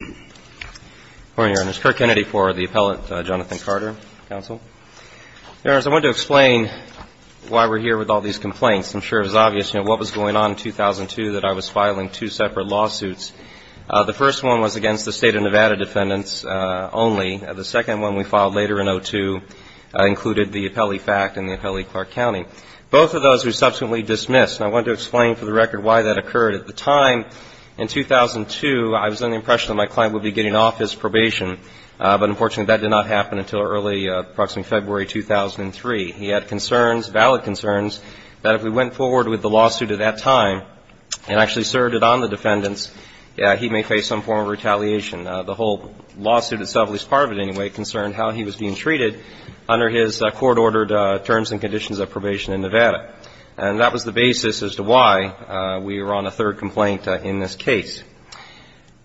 I wanted to explain why we're here with all these complaints. I'm sure it was obvious, you know, what was going on in 2002 that I was filing two separate lawsuits. The first one was against the State of Nevada defendants only. The second one we filed later in 2002 included the Appellee Fact and the Appellee Clark County. Both of those were subsequently dismissed, and I wanted to explain, for the record, why that occurred. At the time, in 2002, I was under the impression that my client would be getting off his probation, but unfortunately that did not happen until early, approximately February 2003. He had concerns, valid concerns, that if we went forward with the lawsuit at that time and actually served it on the defendants, he may face some form of retaliation. The whole lawsuit itself, at least part of it anyway, concerned how he was being treated under his court-ordered terms and conditions of probation in Nevada. And that was the basis as to why we were on a third complaint in this case.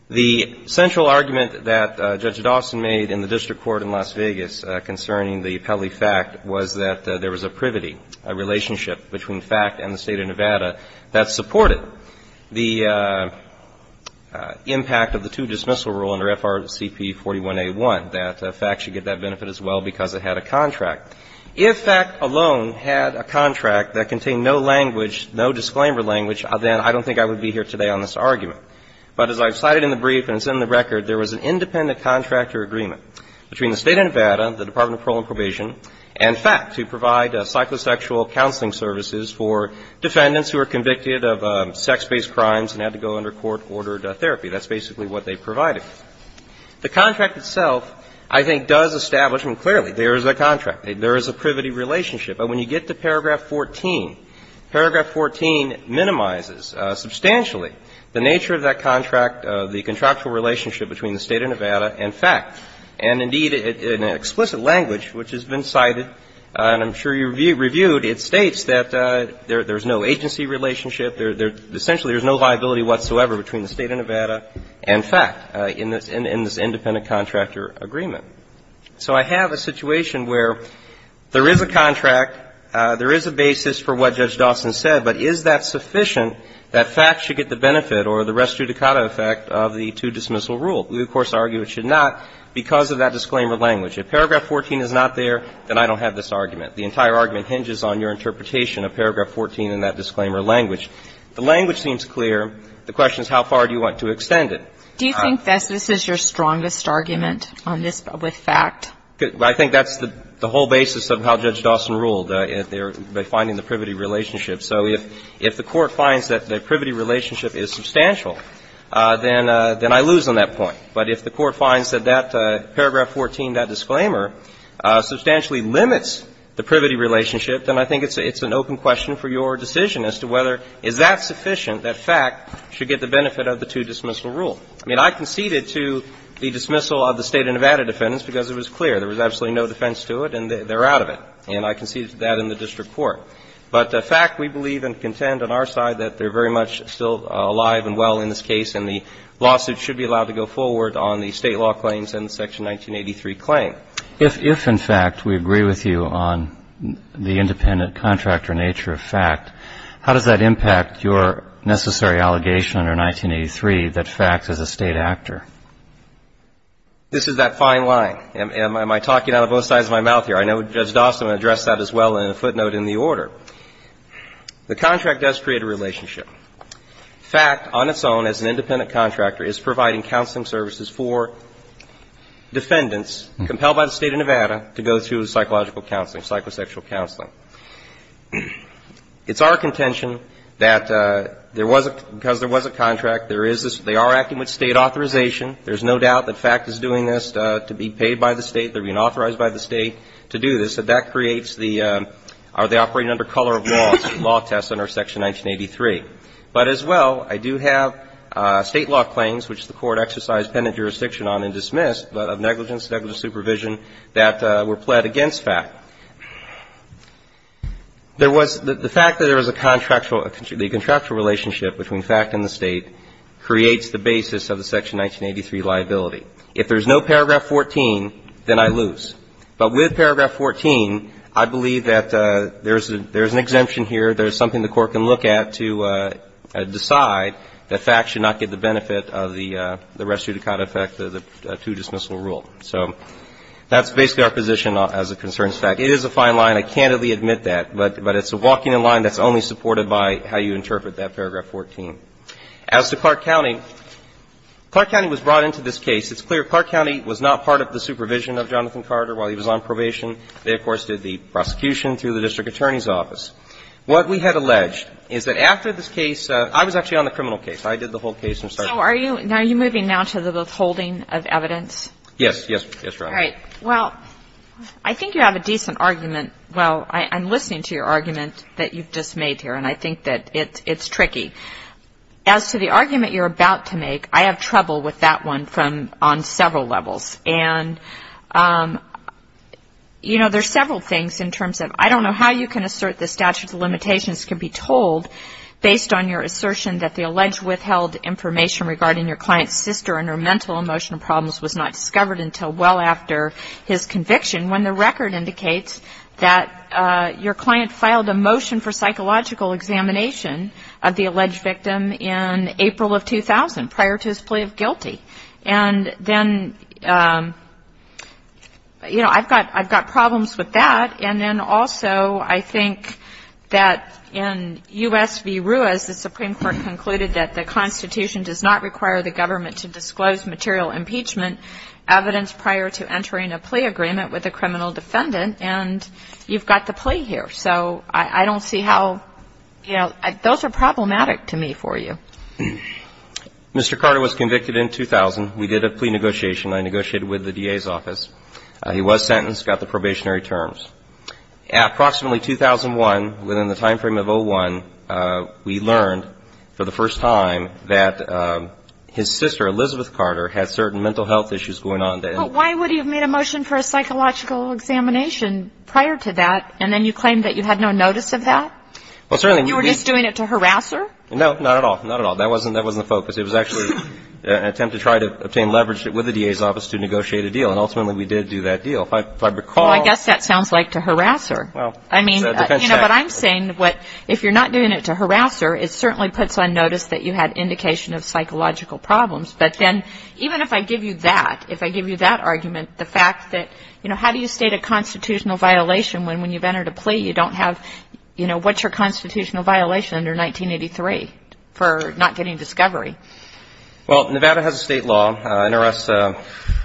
The central argument that Judge Dawson made in the district court in Las Vegas concerning the Appellee Fact was that there was a privity, a relationship between Fact and the State of Nevada that supported the impact of the two-dismissal rule under FRCP 41A1, that Fact should get that benefit as well because it had a contract. If Fact alone had a contract that contained no language, no disclaimer language, then I don't think I would be here today on this argument. But as I've cited in the brief and it's in the record, there was an independent contractor agreement between the State of Nevada, the Department of Parole and Probation, and Fact to provide psychosexual counseling services for defendants who were convicted of sex-based crimes and had to go under court-ordered therapy. That's basically what they provided. The contract itself, I think, does establish, and clearly, there is a contract. There is a privity relationship. But when you get to paragraph 14, paragraph 14 minimizes substantially the nature of that contract, the contractual relationship between the State of Nevada and Fact. And, indeed, in explicit language, which has been cited, and I'm sure you've reviewed, it states that there's no agency relationship. Essentially, there's no viability whatsoever between the State of Nevada and Fact in this independent contractor agreement. So I have a situation where there is a contract, there is a basis for what Judge Dawson said, but is that sufficient that Fact should get the benefit or the res judicata effect of the two-dismissal rule? We, of course, argue it should not because of that disclaimer language. If paragraph 14 is not there, then I don't have this argument. The entire argument hinges on your interpretation of paragraph 14 and that disclaimer language. The language seems clear. The question is how far do you want to extend it? Do you think this is your strongest argument on this with Fact? I think that's the whole basis of how Judge Dawson ruled, by finding the privity relationship. So if the Court finds that the privity relationship is substantial, then I lose on that point. But if the Court finds that that paragraph 14, that disclaimer, substantially limits the privity relationship, then I think it's an open question for your decision as to whether is that sufficient that Fact should get the benefit of the two-dismissal rule. I mean, I conceded to the dismissal of the State of Nevada defendants because it was clear. There was absolutely no defense to it, and they're out of it. And I conceded to that in the district court. But Fact, we believe and contend on our side that they're very much still alive and well in this case, and the lawsuit should be allowed to go forward on the State law claims and the Section 1983 claim. But if, in fact, we agree with you on the independent contractor nature of Fact, how does that impact your necessary allegation under 1983 that Fact is a State actor? This is that fine line. Am I talking out of both sides of my mouth here? I know Judge Dawson addressed that as well in a footnote in the order. The contract does create a relationship. Fact, on its own, as an independent contractor, is providing counseling services for defendants compelled by the State of Nevada to go through psychological counseling, psychosexual counseling. It's our contention that there was a – because there was a contract, there is this – they are acting with State authorization. There's no doubt that Fact is doing this to be paid by the State. They're being authorized by the State to do this. So that creates the – are they operating under color of law, law tests under Section 1983. But as well, I do have State law claims, which the Court exercised penitent jurisdiction on and dismissed, but of negligence, negligent supervision that were pled against Fact. There was – the fact that there was a contractual – the contractual relationship between Fact and the State creates the basis of the Section 1983 liability. If there's no paragraph 14, then I lose. But with paragraph 14, I believe that there's a – there's an exemption here, there's something the Court can look at to decide that Fact should not get the benefit of the res judicata effect, the two-dismissal rule. So that's basically our position as it concerns Fact. It is a fine line. I candidly admit that. But it's a walking in line that's only supported by how you interpret that paragraph 14. As to Clark County, Clark County was brought into this case. It's clear Clark County was not part of the supervision of Jonathan Carter while he was on probation. They, of course, did the prosecution through the district attorney's office. What we had alleged is that after this case – I was actually on the criminal I did the whole case from start to finish. So are you – are you moving now to the withholding of evidence? Yes. Yes. Yes, Your Honor. All right. Well, I think you have a decent argument. Well, I'm listening to your argument that you've just made here. And I think that it's tricky. As to the argument you're about to make, I have trouble with that one from – on several levels. And, you know, there's several things in terms of I don't know how you can assert the statute of limitations can be told based on your assertion that the alleged withheld information regarding your client's sister and her mental emotional problems was not discovered until well after his conviction when the record indicates that your client filed a motion for psychological examination of the alleged victim in April of 2000 prior to his plea of guilty. And then, you know, I've got – I've got problems with that. And then also I think that in U.S. v. Ruiz, the Supreme Court concluded that the Constitution does not require the government to disclose material impeachment evidence prior to entering a plea agreement with a criminal defendant. And you've got the plea here. So I don't see how – you know, those are problematic to me for you. Mr. Carter was convicted in 2000. We did a plea negotiation. I negotiated with the DA's office. He was sentenced, got the probationary terms. Approximately 2001, within the timeframe of 01, we learned for the first time that his sister, Elizabeth Carter, had certain mental health issues going on. But why would he have made a motion for a psychological examination prior to that, and then you claimed that you had no notice of that? Well, certainly we – You were just doing it to harass her? No, not at all. Not at all. That wasn't the focus. It was actually an attempt to try to obtain leverage with the DA's office to negotiate a deal. And ultimately we did do that deal. If I recall – Well, I guess that sounds like to harass her. Well, it's a defense tactic. I mean, you know, but I'm saying what – if you're not doing it to harass her, it certainly puts on notice that you had indication of psychological problems. But then even if I give you that, if I give you that argument, the fact that – you know, how do you state a constitutional violation when, when you've entered a plea, you don't have – you know, what's your constitutional violation under 1983 for not getting discovery? Well, Nevada has a state law. NRS,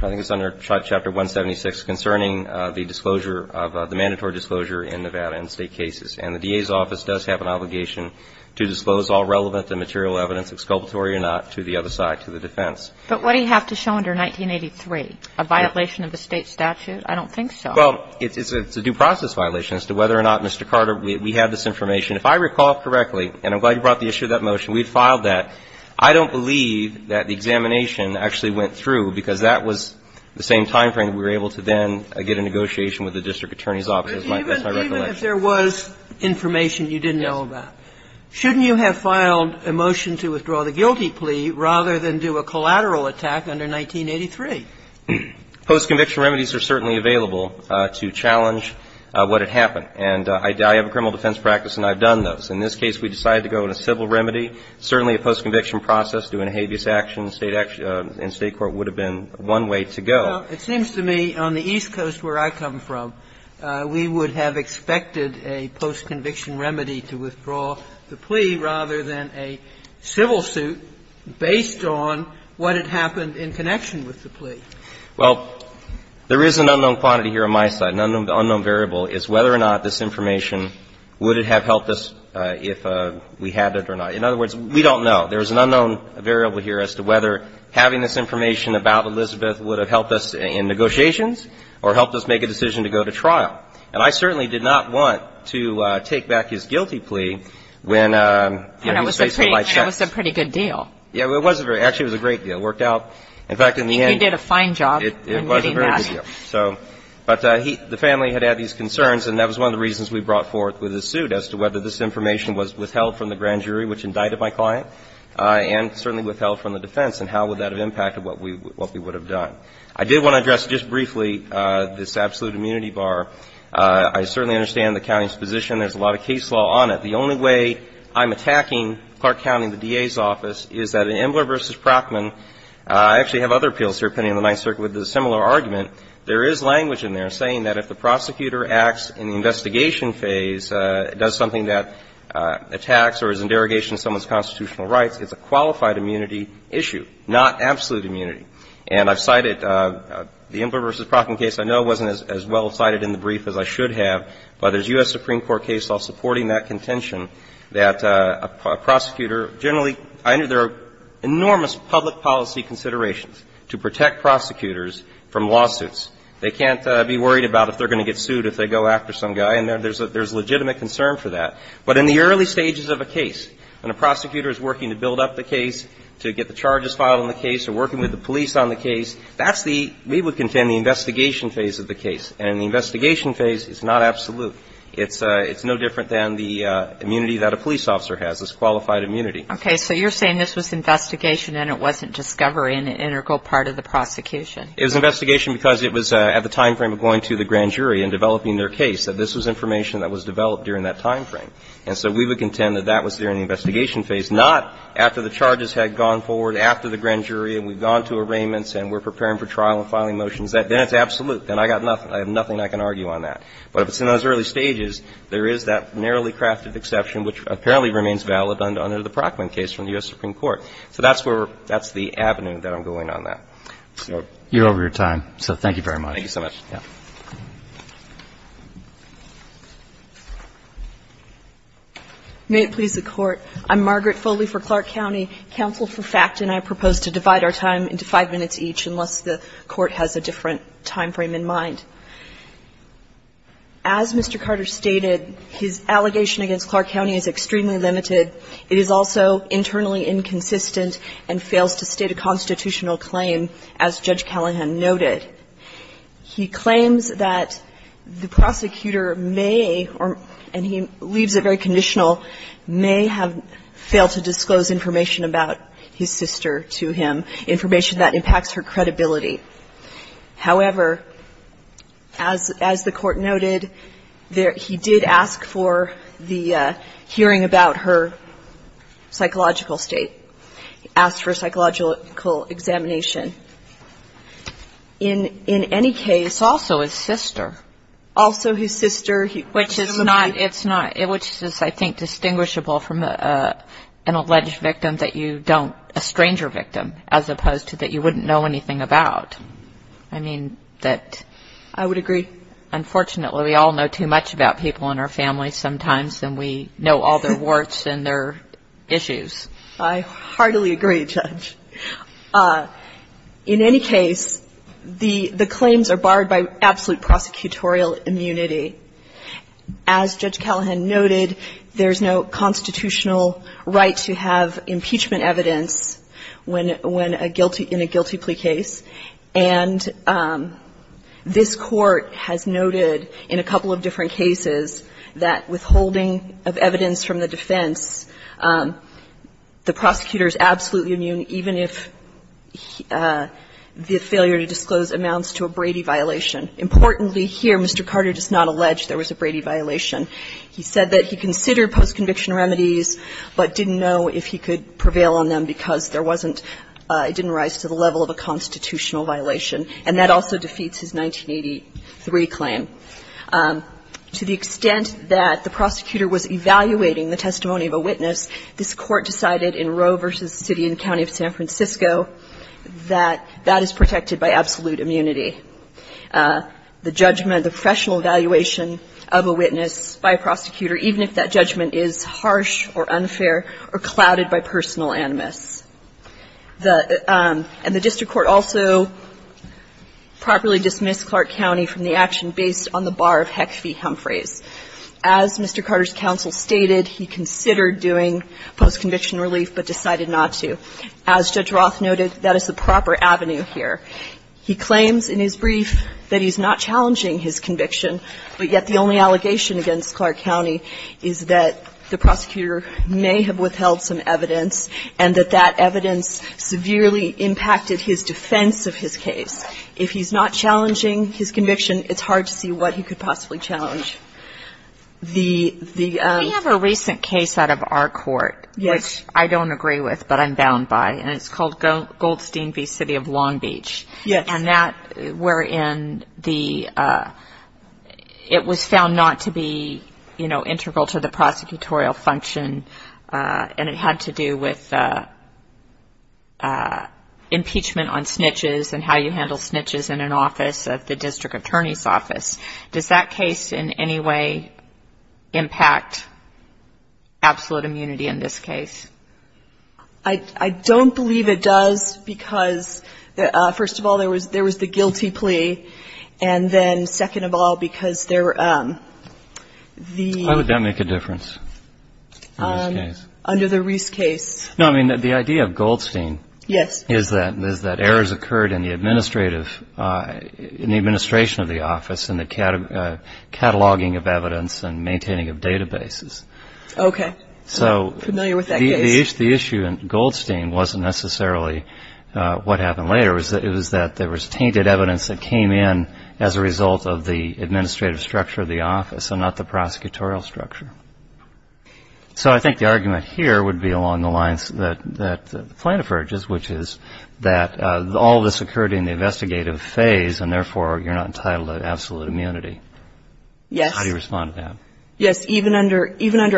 I think it's under Chapter 176, concerning the disclosure of – the mandatory disclosure in Nevada in State cases. And the DA's office does have an obligation to disclose all relevant and material evidence, exculpatory or not, to the other side, to the defense. But what do you have to show under 1983? A violation of the State statute? I don't think so. Well, it's a due process violation as to whether or not, Mr. Carter, we have this information. If I recall correctly, and I'm glad you brought the issue of that motion, we've filed that. I don't believe that the examination actually went through, because that was the same timeframe that we were able to then get a negotiation with the district attorney's office. That's my recollection. But even if there was information you didn't know about, shouldn't you have filed a motion to withdraw the guilty plea rather than do a collateral attack under 1983? Post-conviction remedies are certainly available to challenge what had happened. And I have a criminal defense practice, and I've done those. In this case, we decided to go with a civil remedy. Certainly, a post-conviction process doing a habeas action in State court would have been one way to go. Well, it seems to me on the East Coast where I come from, we would have expected a post-conviction remedy to withdraw the plea rather than a civil suit based on what had happened in connection with the plea. Well, there is an unknown quantity here on my side. The question is whether or not this information would have helped us if we had it or not. In other words, we don't know. There is an unknown variable here as to whether having this information about Elizabeth would have helped us in negotiations or helped us make a decision to go to trial. And I certainly did not want to take back his guilty plea when he was faced with my check. And it was a pretty good deal. Yeah. It wasn't very. Actually, it was a great deal. It worked out. In fact, in the end you did a fine job in getting that. It was a very good deal. So, but the family had had these concerns and that was one of the reasons we brought forth with the suit as to whether this information was withheld from the grand jury which indicted my client and certainly withheld from the defense and how would that have impacted what we would have done. I did want to address just briefly this absolute immunity bar. I certainly understand the county's position. There is a lot of case law on it. The only way I'm attacking Clark County, the DA's office, is that in Embler v. Procten, there is language in there saying that if the prosecutor acts in the investigation phase, does something that attacks or is in derogation of someone's constitutional rights, it's a qualified immunity issue, not absolute immunity. And I've cited the Embler v. Procten case. I know it wasn't as well cited in the brief as I should have, but there's U.S. Supreme Court case law supporting that contention that a prosecutor generally, I know there are enormous public policy considerations to protect prosecutors from lawsuits. They can't be worried about if they're going to get sued if they go after some guy, and there's legitimate concern for that. But in the early stages of a case, when a prosecutor is working to build up the case to get the charges filed on the case or working with the police on the case, that's the, we would contend, the investigation phase of the case. And in the investigation phase, it's not absolute. It's no different than the immunity that a police officer has, this qualified immunity. Okay. So you're saying this was investigation and it wasn't discovery and an integral part of the prosecution. It was investigation because it was at the time frame of going to the grand jury and developing their case, that this was information that was developed during that time frame. And so we would contend that that was during the investigation phase, not after the charges had gone forward, after the grand jury, and we've gone to arraignments and we're preparing for trial and filing motions. Then it's absolute. Then I got nothing. I have nothing I can argue on that. But if it's in those early stages, there is that narrowly crafted exception, which apparently remains valid under the Brockman case from the U.S. Supreme Court. So that's where, that's the avenue that I'm going on that. So. You're over your time. So thank you very much. Thank you so much. May it please the Court. I'm Margaret Foley for Clark County. Counsel for FACT and I propose to divide our time into five minutes each, unless the Court has a different time frame in mind. As Mr. Carter stated, his allegation against Clark County is extremely limited. It is also internally inconsistent and fails to state a constitutional claim, as Judge Callahan noted. He claims that the prosecutor may, and he leaves it very conditional, may have failed to disclose information about his sister to him, information that impacts her credibility. However, as the Court noted, he did ask for the hearing about her psychological state, asked for psychological examination. In any case. Also his sister. Also his sister. Which is not, it's not. Which is, I think, distinguishable from an alleged victim that you don't, a stranger that you don't know anything about. I mean, that. I would agree. Unfortunately, we all know too much about people in our families sometimes, and we know all their warts and their issues. I heartily agree, Judge. In any case, the claims are barred by absolute prosecutorial immunity. As Judge Callahan noted, there's no constitutional right to have impeachment evidence when a guilty, in a guilty plea case. And this Court has noted in a couple of different cases that withholding of evidence from the defense, the prosecutor's absolutely immune even if the failure to disclose amounts to a Brady violation. Importantly here, Mr. Carter does not allege there was a Brady violation. He said that he considered post-conviction remedies, but didn't know if he could prevail on them because there wasn't, it didn't rise to the level of a constitutional violation. And that also defeats his 1983 claim. To the extent that the prosecutor was evaluating the testimony of a witness, this Court decided in Roe v. City and County of San Francisco that that is protected by absolute immunity. The judgment, the professional evaluation of a witness by a prosecutor, even if that judgment is harsh or unfair or clouded by personal animus. The – and the district court also properly dismissed Clark County from the action based on the bar of HEC v. Humphreys. As Mr. Carter's counsel stated, he considered doing post-conviction relief, but decided not to. As Judge Roth noted, that is the proper avenue here. He claims in his brief that he's not challenging his conviction, but yet the only allegation against Clark County is that the prosecutor may have withheld some evidence and that that evidence severely impacted his defense of his case. If he's not challenging his conviction, it's hard to see what he could possibly challenge. The – the – We have a recent case out of our court, which I don't agree with, but I'm bound by, and it's called Goldstein v. City of Long Beach. Yes. And that – wherein the – it was found not to be, you know, integral to the prosecutorial function, and it had to do with impeachment on snitches and how you handle snitches in an office of the district attorney's office. Does that case in any way impact absolute immunity in this case? I don't believe it does because, first of all, there was the guilty plea, and then, second of all, because there were the – Why would that make a difference in this case? Under the Reese case. No, I mean, the idea of Goldstein is that errors occurred in the administrative – in the administration of the office and the cataloging of evidence and maintaining of databases. Okay. So – I'm familiar with that case. The issue in Goldstein wasn't necessarily what happened later. It was that there was tainted evidence that came in as a result of the administrative structure of the office and not the prosecutorial structure. So I think the argument here would be along the lines that the plaintiff urges, which is that all this occurred in the investigative phase, and therefore, you're not entitled to absolute immunity. Yes. How do you respond to that? Yes, even under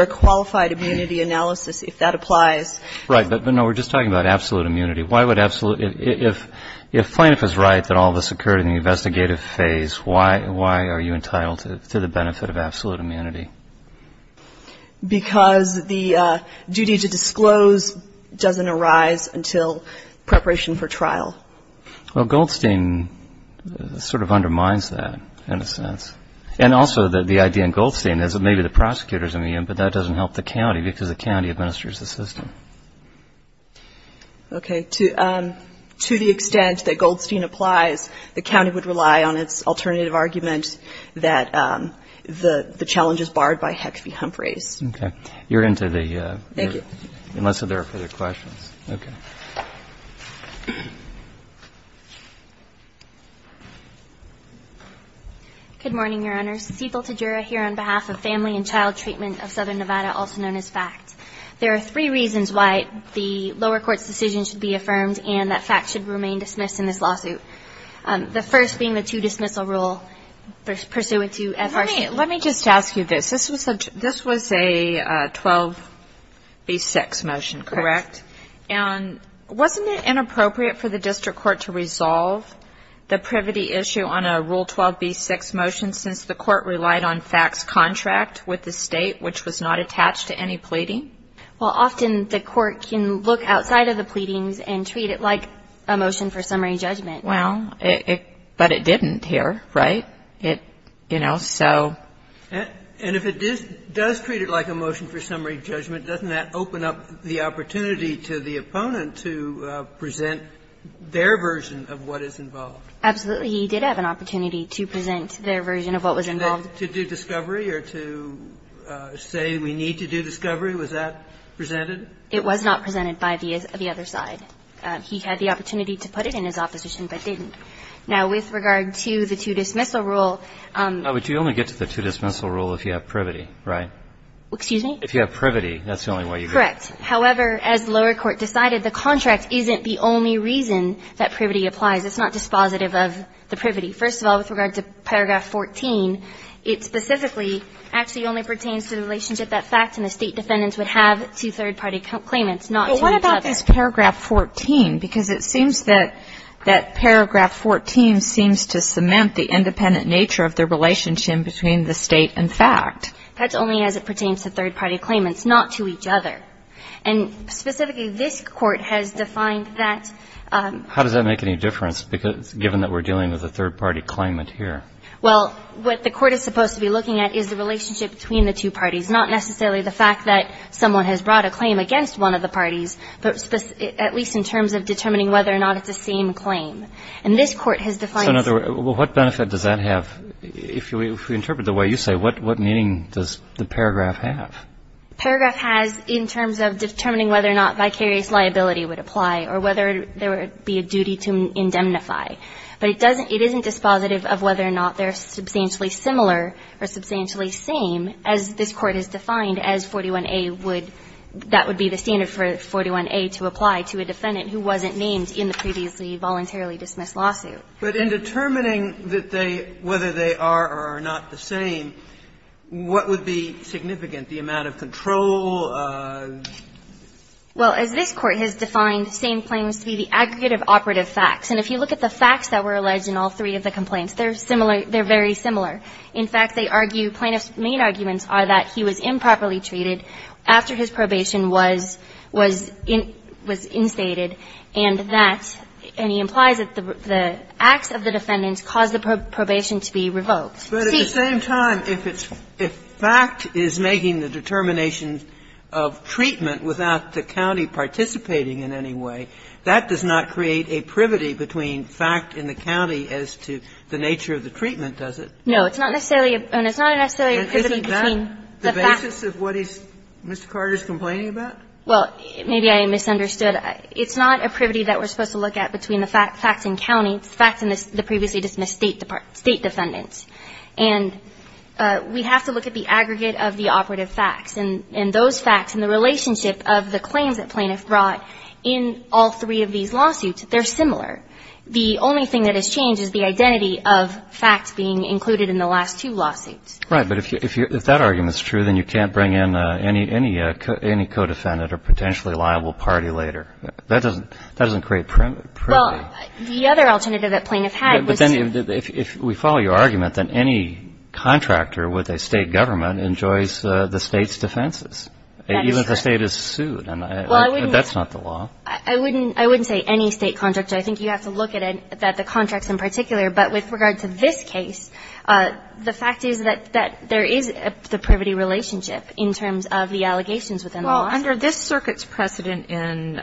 a qualified immunity analysis, if that applies. Right. But, no, we're just talking about absolute immunity. Why would absolute – if plaintiff is right that all this occurred in the investigative phase, why are you entitled to the benefit of absolute immunity? Because the duty to disclose doesn't arise until preparation for trial. And also, the idea in Goldstein is that maybe the prosecutor is immune, but that doesn't help the county because the county administers the system. Okay. To the extent that Goldstein applies, the county would rely on its alternative argument that the challenge is barred by heck-be-hump race. Okay. You're into the – Thank you. Unless there are further questions. Okay. Good morning, Your Honors. Cethel Tadjura here on behalf of Family and Child Treatment of Southern Nevada, also known as FACT. There are three reasons why the lower court's decision should be affirmed and that FACT should remain dismissed in this lawsuit, the first being the two-dismissal rule pursuant to FRC. Let me just ask you this. This was a 12B6 motion, correct? Correct. And wasn't it inappropriate for the district court to resolve the privity issue on a Rule 12B6 motion since the court relied on FACT's contract with the State, which was not attached to any pleading? Well, often the court can look outside of the pleadings and treat it like a motion for summary judgment. Well, but it didn't here, right? It, you know, so. And if it does treat it like a motion for summary judgment, doesn't that open up the opponent to present their version of what is involved? Absolutely. He did have an opportunity to present their version of what was involved. And then to do discovery or to say we need to do discovery, was that presented? It was not presented by the other side. He had the opportunity to put it in his opposition, but didn't. Now, with regard to the two-dismissal rule. But you only get to the two-dismissal rule if you have privity, right? Excuse me? If you have privity, that's the only way you get it. Correct. However, as lower court decided, the contract isn't the only reason that privity applies. It's not dispositive of the privity. First of all, with regard to paragraph 14, it specifically actually only pertains to the relationship that fact and the State defendants would have to third-party claimants, not to each other. But what about this paragraph 14? Because it seems that that paragraph 14 seems to cement the independent nature of the relationship between the State and fact. That's only as it pertains to third-party claimants, not to each other. And specifically, this Court has defined that ---- How does that make any difference, given that we're dealing with a third-party claimant here? Well, what the Court is supposed to be looking at is the relationship between the two parties, not necessarily the fact that someone has brought a claim against one of the parties, but at least in terms of determining whether or not it's the same claim. And this Court has defined ---- So in other words, what benefit does that have? If we interpret it the way you say, what meaning does the paragraph have? Paragraph has, in terms of determining whether or not vicarious liability would apply or whether there would be a duty to indemnify. But it doesn't ---- it isn't dispositive of whether or not they're substantially similar or substantially same, as this Court has defined as 41A would ---- that would be the standard for 41A to apply to a defendant who wasn't named in the previously voluntarily dismissed lawsuit. But in determining that they ---- whether they are or are not the same, what would be the significance, the amount of control? Well, as this Court has defined same claims to be the aggregate of operative facts, and if you look at the facts that were alleged in all three of the complaints, they're similar ---- they're very similar. In fact, they argue plaintiff's main arguments are that he was improperly treated after his probation was ---- was instated, and that ---- and he implies that the acts of the defendants caused the probation to be revoked. But at the same time, if it's ---- if fact is making the determination of treatment without the county participating in any way, that does not create a privity between fact and the county as to the nature of the treatment, does it? No. It's not necessarily a ---- and it's not necessarily a privity between the facts. And isn't that the basis of what he's ---- Mr. Carter's complaining about? Well, maybe I misunderstood. It's not a privity that we're supposed to look at between the facts in county, facts in the previously dismissed state defendants. And we have to look at the aggregate of the operative facts. And those facts and the relationship of the claims that plaintiff brought in all three of these lawsuits, they're similar. The only thing that has changed is the identity of facts being included in the last two lawsuits. Right. But if you ---- if that argument's true, then you can't bring in any co-defendant or potentially liable party later. That doesn't ---- that doesn't create privity. Well, the other alternative that plaintiff had was to ---- But then if we follow your argument, then any contractor with a state government enjoys the state's defenses. That is correct. Even if the state is sued. And I ---- Well, I wouldn't ---- That's not the law. I wouldn't say any state contractor. I think you have to look at it, at the contracts in particular. But with regard to this case, the fact is that there is the privity relationship in terms of the allegations within the law. Under this circuit's precedent in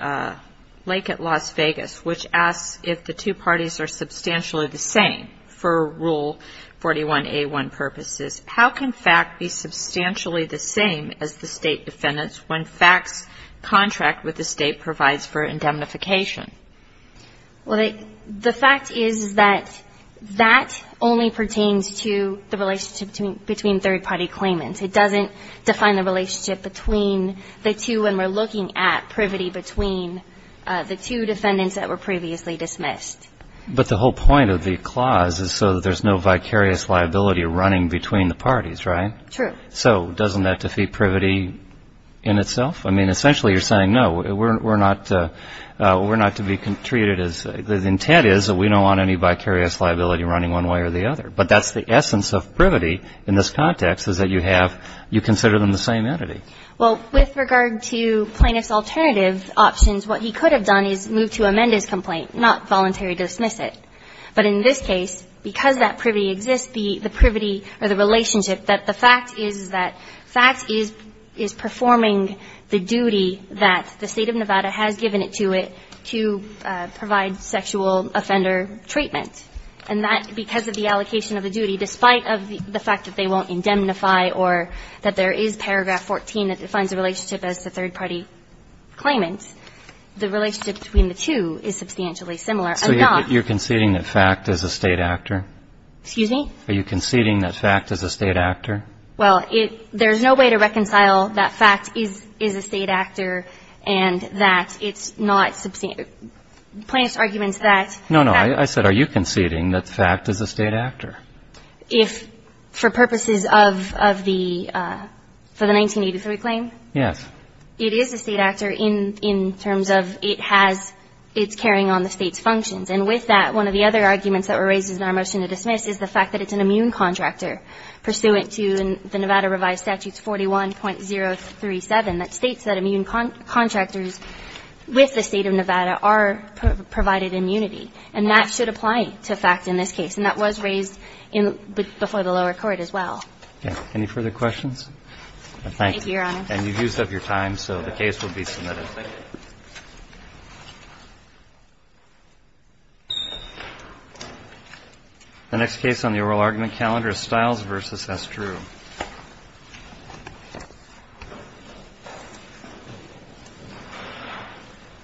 Lake at Las Vegas, which asks if the two parties are substantially the same for Rule 41A1 purposes, how can fact be substantially the same as the state defendants when fact's contract with the state provides for indemnification? Well, the fact is that that only pertains to the relationship between third party claimants. It doesn't define the relationship between the two when we're looking at privity between the two defendants that were previously dismissed. But the whole point of the clause is so that there's no vicarious liability running between the parties, right? True. So doesn't that defeat privity in itself? I mean, essentially you're saying, no, we're not to be treated as ---- The intent is that we don't want any vicarious liability running one way or the other. But that's the essence of privity in this context is that you have, you consider them the same entity. Well, with regard to plaintiff's alternative options, what he could have done is move to amend his complaint, not voluntary dismiss it. But in this case, because that privity exists, the privity or the relationship that the fact is that fact is performing the duty that the State of Nevada has given it to it to provide sexual offender treatment. And that because of the allocation of the duty, despite of the fact that they won't indemnify or that there is paragraph 14 that defines a relationship as the third party claimant, the relationship between the two is substantially similar. I'm not ---- So you're conceding that fact is a State actor? Excuse me? Are you conceding that fact is a State actor? Well, it ---- there's no way to reconcile that fact is a State actor and that it's not ---- plaintiff's argument is that ---- No, no. I said are you conceding that fact is a State actor? If for purposes of the 1983 claim? Yes. It is a State actor in terms of it has its carrying on the State's functions. And with that, one of the other arguments that were raised in our motion to dismiss is the fact that it's an immune contractor pursuant to the Nevada revised statutes 41.037 that states that immune contractors with the State of Nevada are provided immunity. And that should apply to fact in this case. And that was raised in the ---- before the lower court as well. Okay. Any further questions? Thank you. Thank you, Your Honor. And you've used up your time, so the case will be submitted. Thank you. The next case on the oral argument calendar is Stiles v. S. Drew.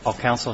All counsel here?